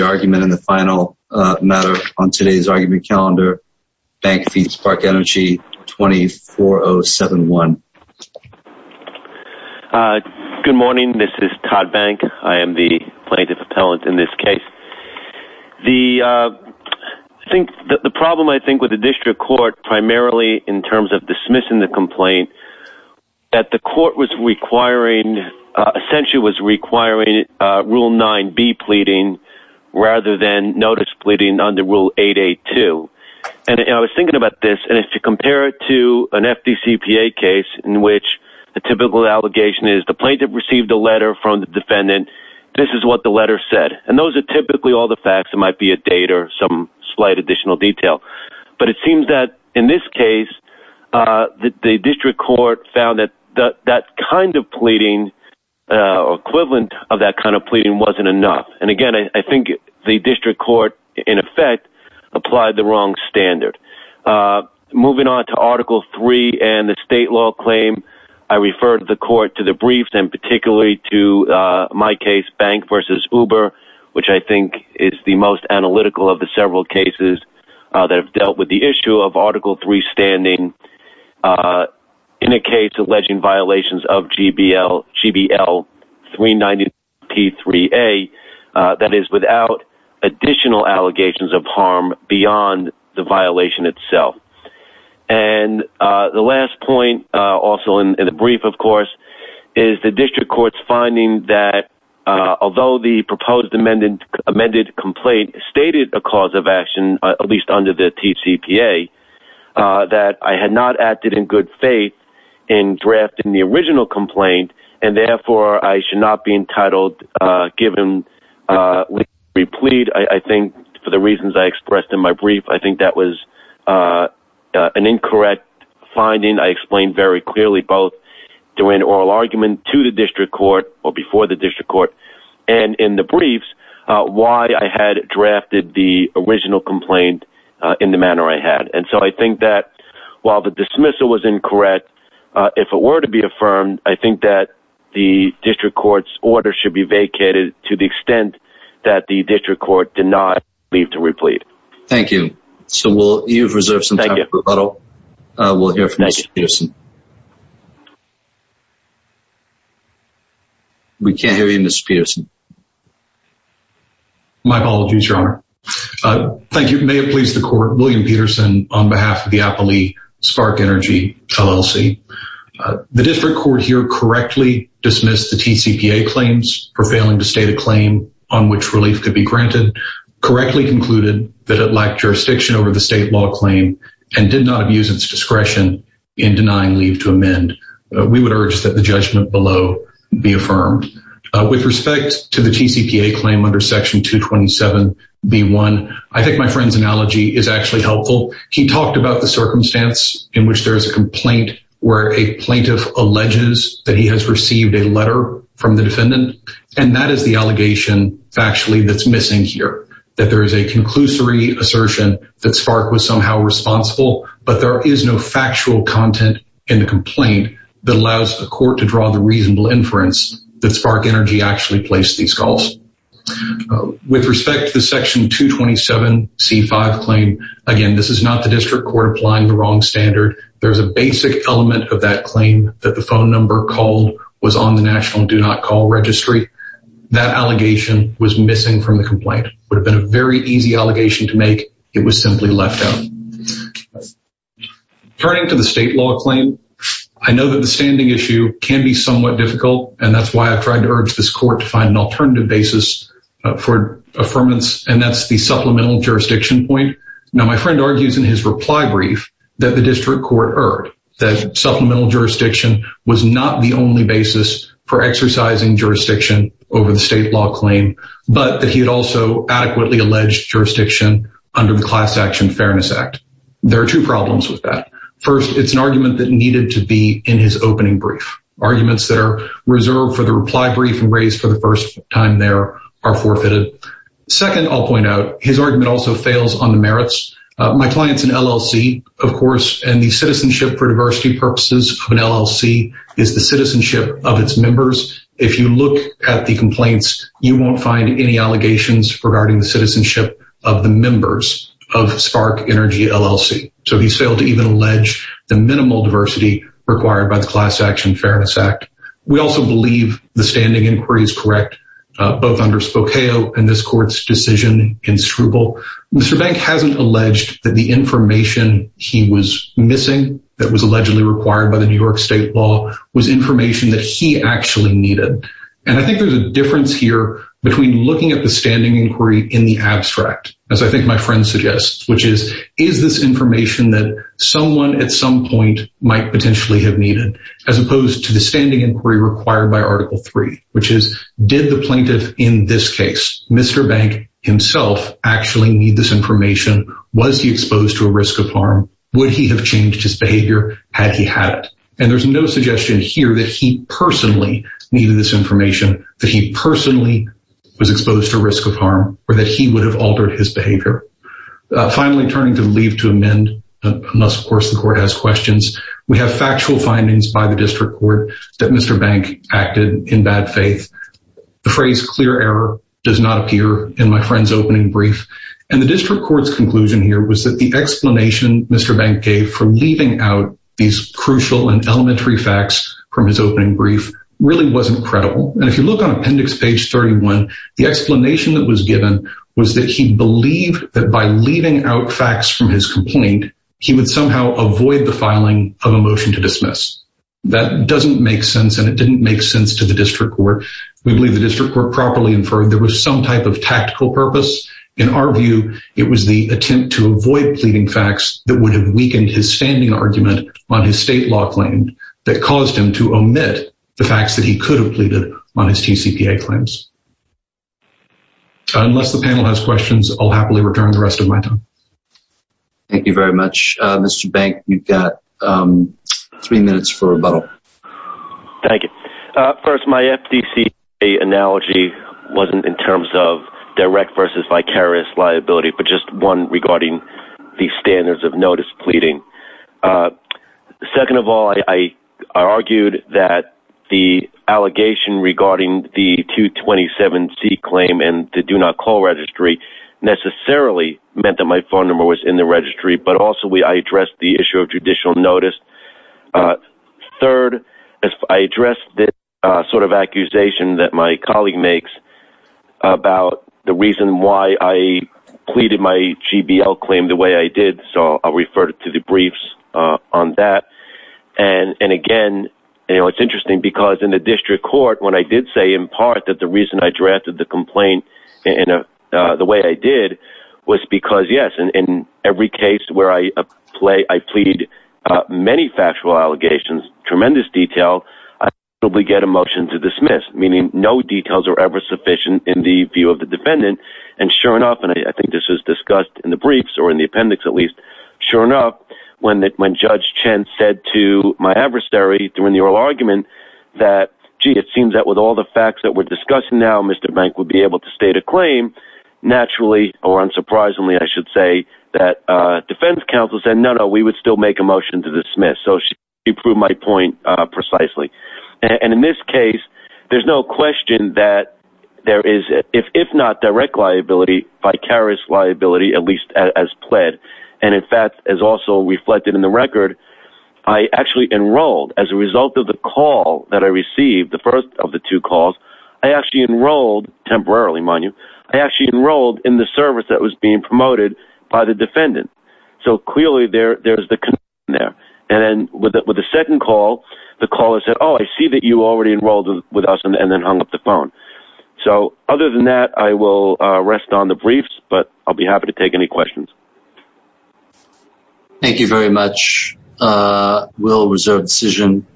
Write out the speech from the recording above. argument in the final matter on today's argument calendar. Bank v. Spark Energy, 24071. Good morning, this is Todd Bank. I am the plaintiff appellant in this case. I think the problem I think with the district court primarily in terms of dismissing the complaint, that the court was requiring, essentially was rather than notice pleading under rule 882. And I was thinking about this and if you compare it to an FDCPA case in which the typical allegation is the plaintiff received a letter from the defendant, this is what the letter said. And those are typically all the facts. It might be a date or some slight additional detail. But it seems that in this case, the district court found that that kind of pleading, equivalent of that kind of pleading, wasn't enough. And again, I think the district court, in effect, applied the wrong standard. Moving on to Article 3 and the state law claim, I refer to the court to the briefs and particularly to my case, Bank v. Uber, which I think is the most analytical of the several cases that have dealt with the issue of Article 3 standing in a that is without additional allegations of harm beyond the violation itself. And the last point, also in the brief of course, is the district court's finding that although the proposed amended complaint stated a cause of action, at least under the TCPA, that I had not acted in good faith in drafting the original complaint, and therefore I should not be entitled, given we plead, I think for the reasons I expressed in my brief, I think that was an incorrect finding. I explained very clearly both during oral argument to the district court or before the district court and in the briefs, why I had drafted the original complaint in the manner I had. And so I think that while the dismissal was incorrect, if it were to be affirmed, I think that the district court's order should be vacated to the extent that the district court did not leave to replead. Thank you. So you've reserved some time for rebuttal. We'll hear from Mr. Peterson. We can't hear you, Mr. Peterson. My apologies, Your Honor. Thank you. May it please the LLC. The district court here correctly dismissed the TCPA claims for failing to state a claim on which relief could be granted, correctly concluded that it lacked jurisdiction over the state law claim, and did not abuse its discretion in denying leave to amend. We would urge that the judgment below be affirmed. With respect to the TCPA claim under section 227b1, I think my friend's analogy is actually helpful. He talked about the circumstance in which there is a complaint where a plaintiff alleges that he has received a letter from the defendant, and that is the allegation factually that's missing here. That there is a conclusory assertion that SPARC was somehow responsible, but there is no factual content in the complaint that allows the court to draw the reasonable inference that SPARC Energy actually placed these calls. With respect to the section 227c5 claim, again, this is not the district court applying the wrong standard. There's a basic element of that claim that the phone number called was on the National Do Not Call Registry. That allegation was missing from the complaint. Would have been a very easy allegation to make. It was simply left out. Turning to the state law claim, I know that the standing issue can be somewhat difficult, and that's why I've tried to urge this court to find an alternative basis for affirmance, and that's the supplemental jurisdiction point. Now, my friend argues in his reply brief that the district court erred, that supplemental jurisdiction was not the only basis for exercising jurisdiction over the state law claim, but that he had also adequately alleged jurisdiction under the Class Action Fairness Act. There are two problems with that. First, it's an argument that needed to be in his opening brief. Arguments that are reserved for the reply brief and raised for the first time there are forfeited. Second, I'll point out, his argument also fails on the merits. My client's an LLC, of course, and the citizenship for diversity purposes of an LLC is the citizenship of its members. If you look at the complaints, you won't find any allegations regarding the citizenship of the members of Spark Energy LLC. So he failed to even allege the minimal diversity required by the Class Action Fairness Act. We also believe the standing inquiry is correct, both under Spokeo and this court's decision in Struble. Mr. Bank hasn't alleged that the information he was missing that was allegedly required by the New York state law was information that he actually needed. And I think there's a difference here between looking at the standing inquiry in the abstract, as I think my friend suggests, which is, is this information that someone at some point might potentially have needed, as opposed to the standing inquiry required by this case. Mr. Bank himself actually need this information. Was he exposed to a risk of harm? Would he have changed his behavior had he had it? And there's no suggestion here that he personally needed this information, that he personally was exposed to a risk of harm, or that he would have altered his behavior. Finally, turning to leave to amend, unless of course the court has questions, we have factual findings by the district court that Mr. Bank acted in bad faith. The does not appear in my friend's opening brief. And the district court's conclusion here was that the explanation Mr. Bank gave for leaving out these crucial and elementary facts from his opening brief really wasn't credible. And if you look on appendix page 31, the explanation that was given was that he believed that by leaving out facts from his complaint, he would somehow avoid the filing of a motion to dismiss. That doesn't make sense. And it didn't make sense to the some type of tactical purpose. In our view, it was the attempt to avoid pleading facts that would have weakened his standing argument on his state law claim that caused him to omit the facts that he could have pleaded on his TCPA claims. Unless the panel has questions, I'll happily return the rest of my time. Thank you very much. Mr. Bank, you've got three minutes for rebuttal. Thank you. First, my FTC analogy wasn't in terms of direct versus vicarious liability, but just one regarding the standards of notice pleading. Second of all, I argued that the allegation regarding the 227 C claim and to do not call registry necessarily meant that my phone number was in the registry. But also we I addressed this sort of accusation that my colleague makes about the reason why I pleaded my GBL claim the way I did. So I'll refer to the briefs on that. And again, you know, it's interesting because in the district court, when I did say in part that the reason I drafted the complaint in a the way I did was because yes, in every case where I play, I plead many factual allegations, tremendous detail, I probably get a motion to dismiss, meaning no details are ever sufficient in the view of the defendant. And sure enough, and I think this was discussed in the briefs or in the appendix, at least. Sure enough, when that when Judge Chen said to my adversary during the oral argument that, gee, it seems that with all the facts that we're discussing now, Mr. Bank would be able to state a claim. Naturally, or unsurprisingly, I should say that defense counsel said no, no, we would still make a motion to dismiss. So he proved my point precisely. And in this case, there's no question that there is if not direct liability, vicarious liability, at least as pled. And in fact, as also reflected in the record, I actually enrolled as a result of the call that I received the first of the two calls, I actually enrolled temporarily money, I actually enrolled in the service that was being promoted by the defendant. So clearly there, there's the connection there. And then with the second call, the caller said, Oh, I see that you already enrolled with us and then hung up the phone. So other than that, I will rest on the briefs, but I'll be happy to take any questions. Thank you very much. We'll reserve decision.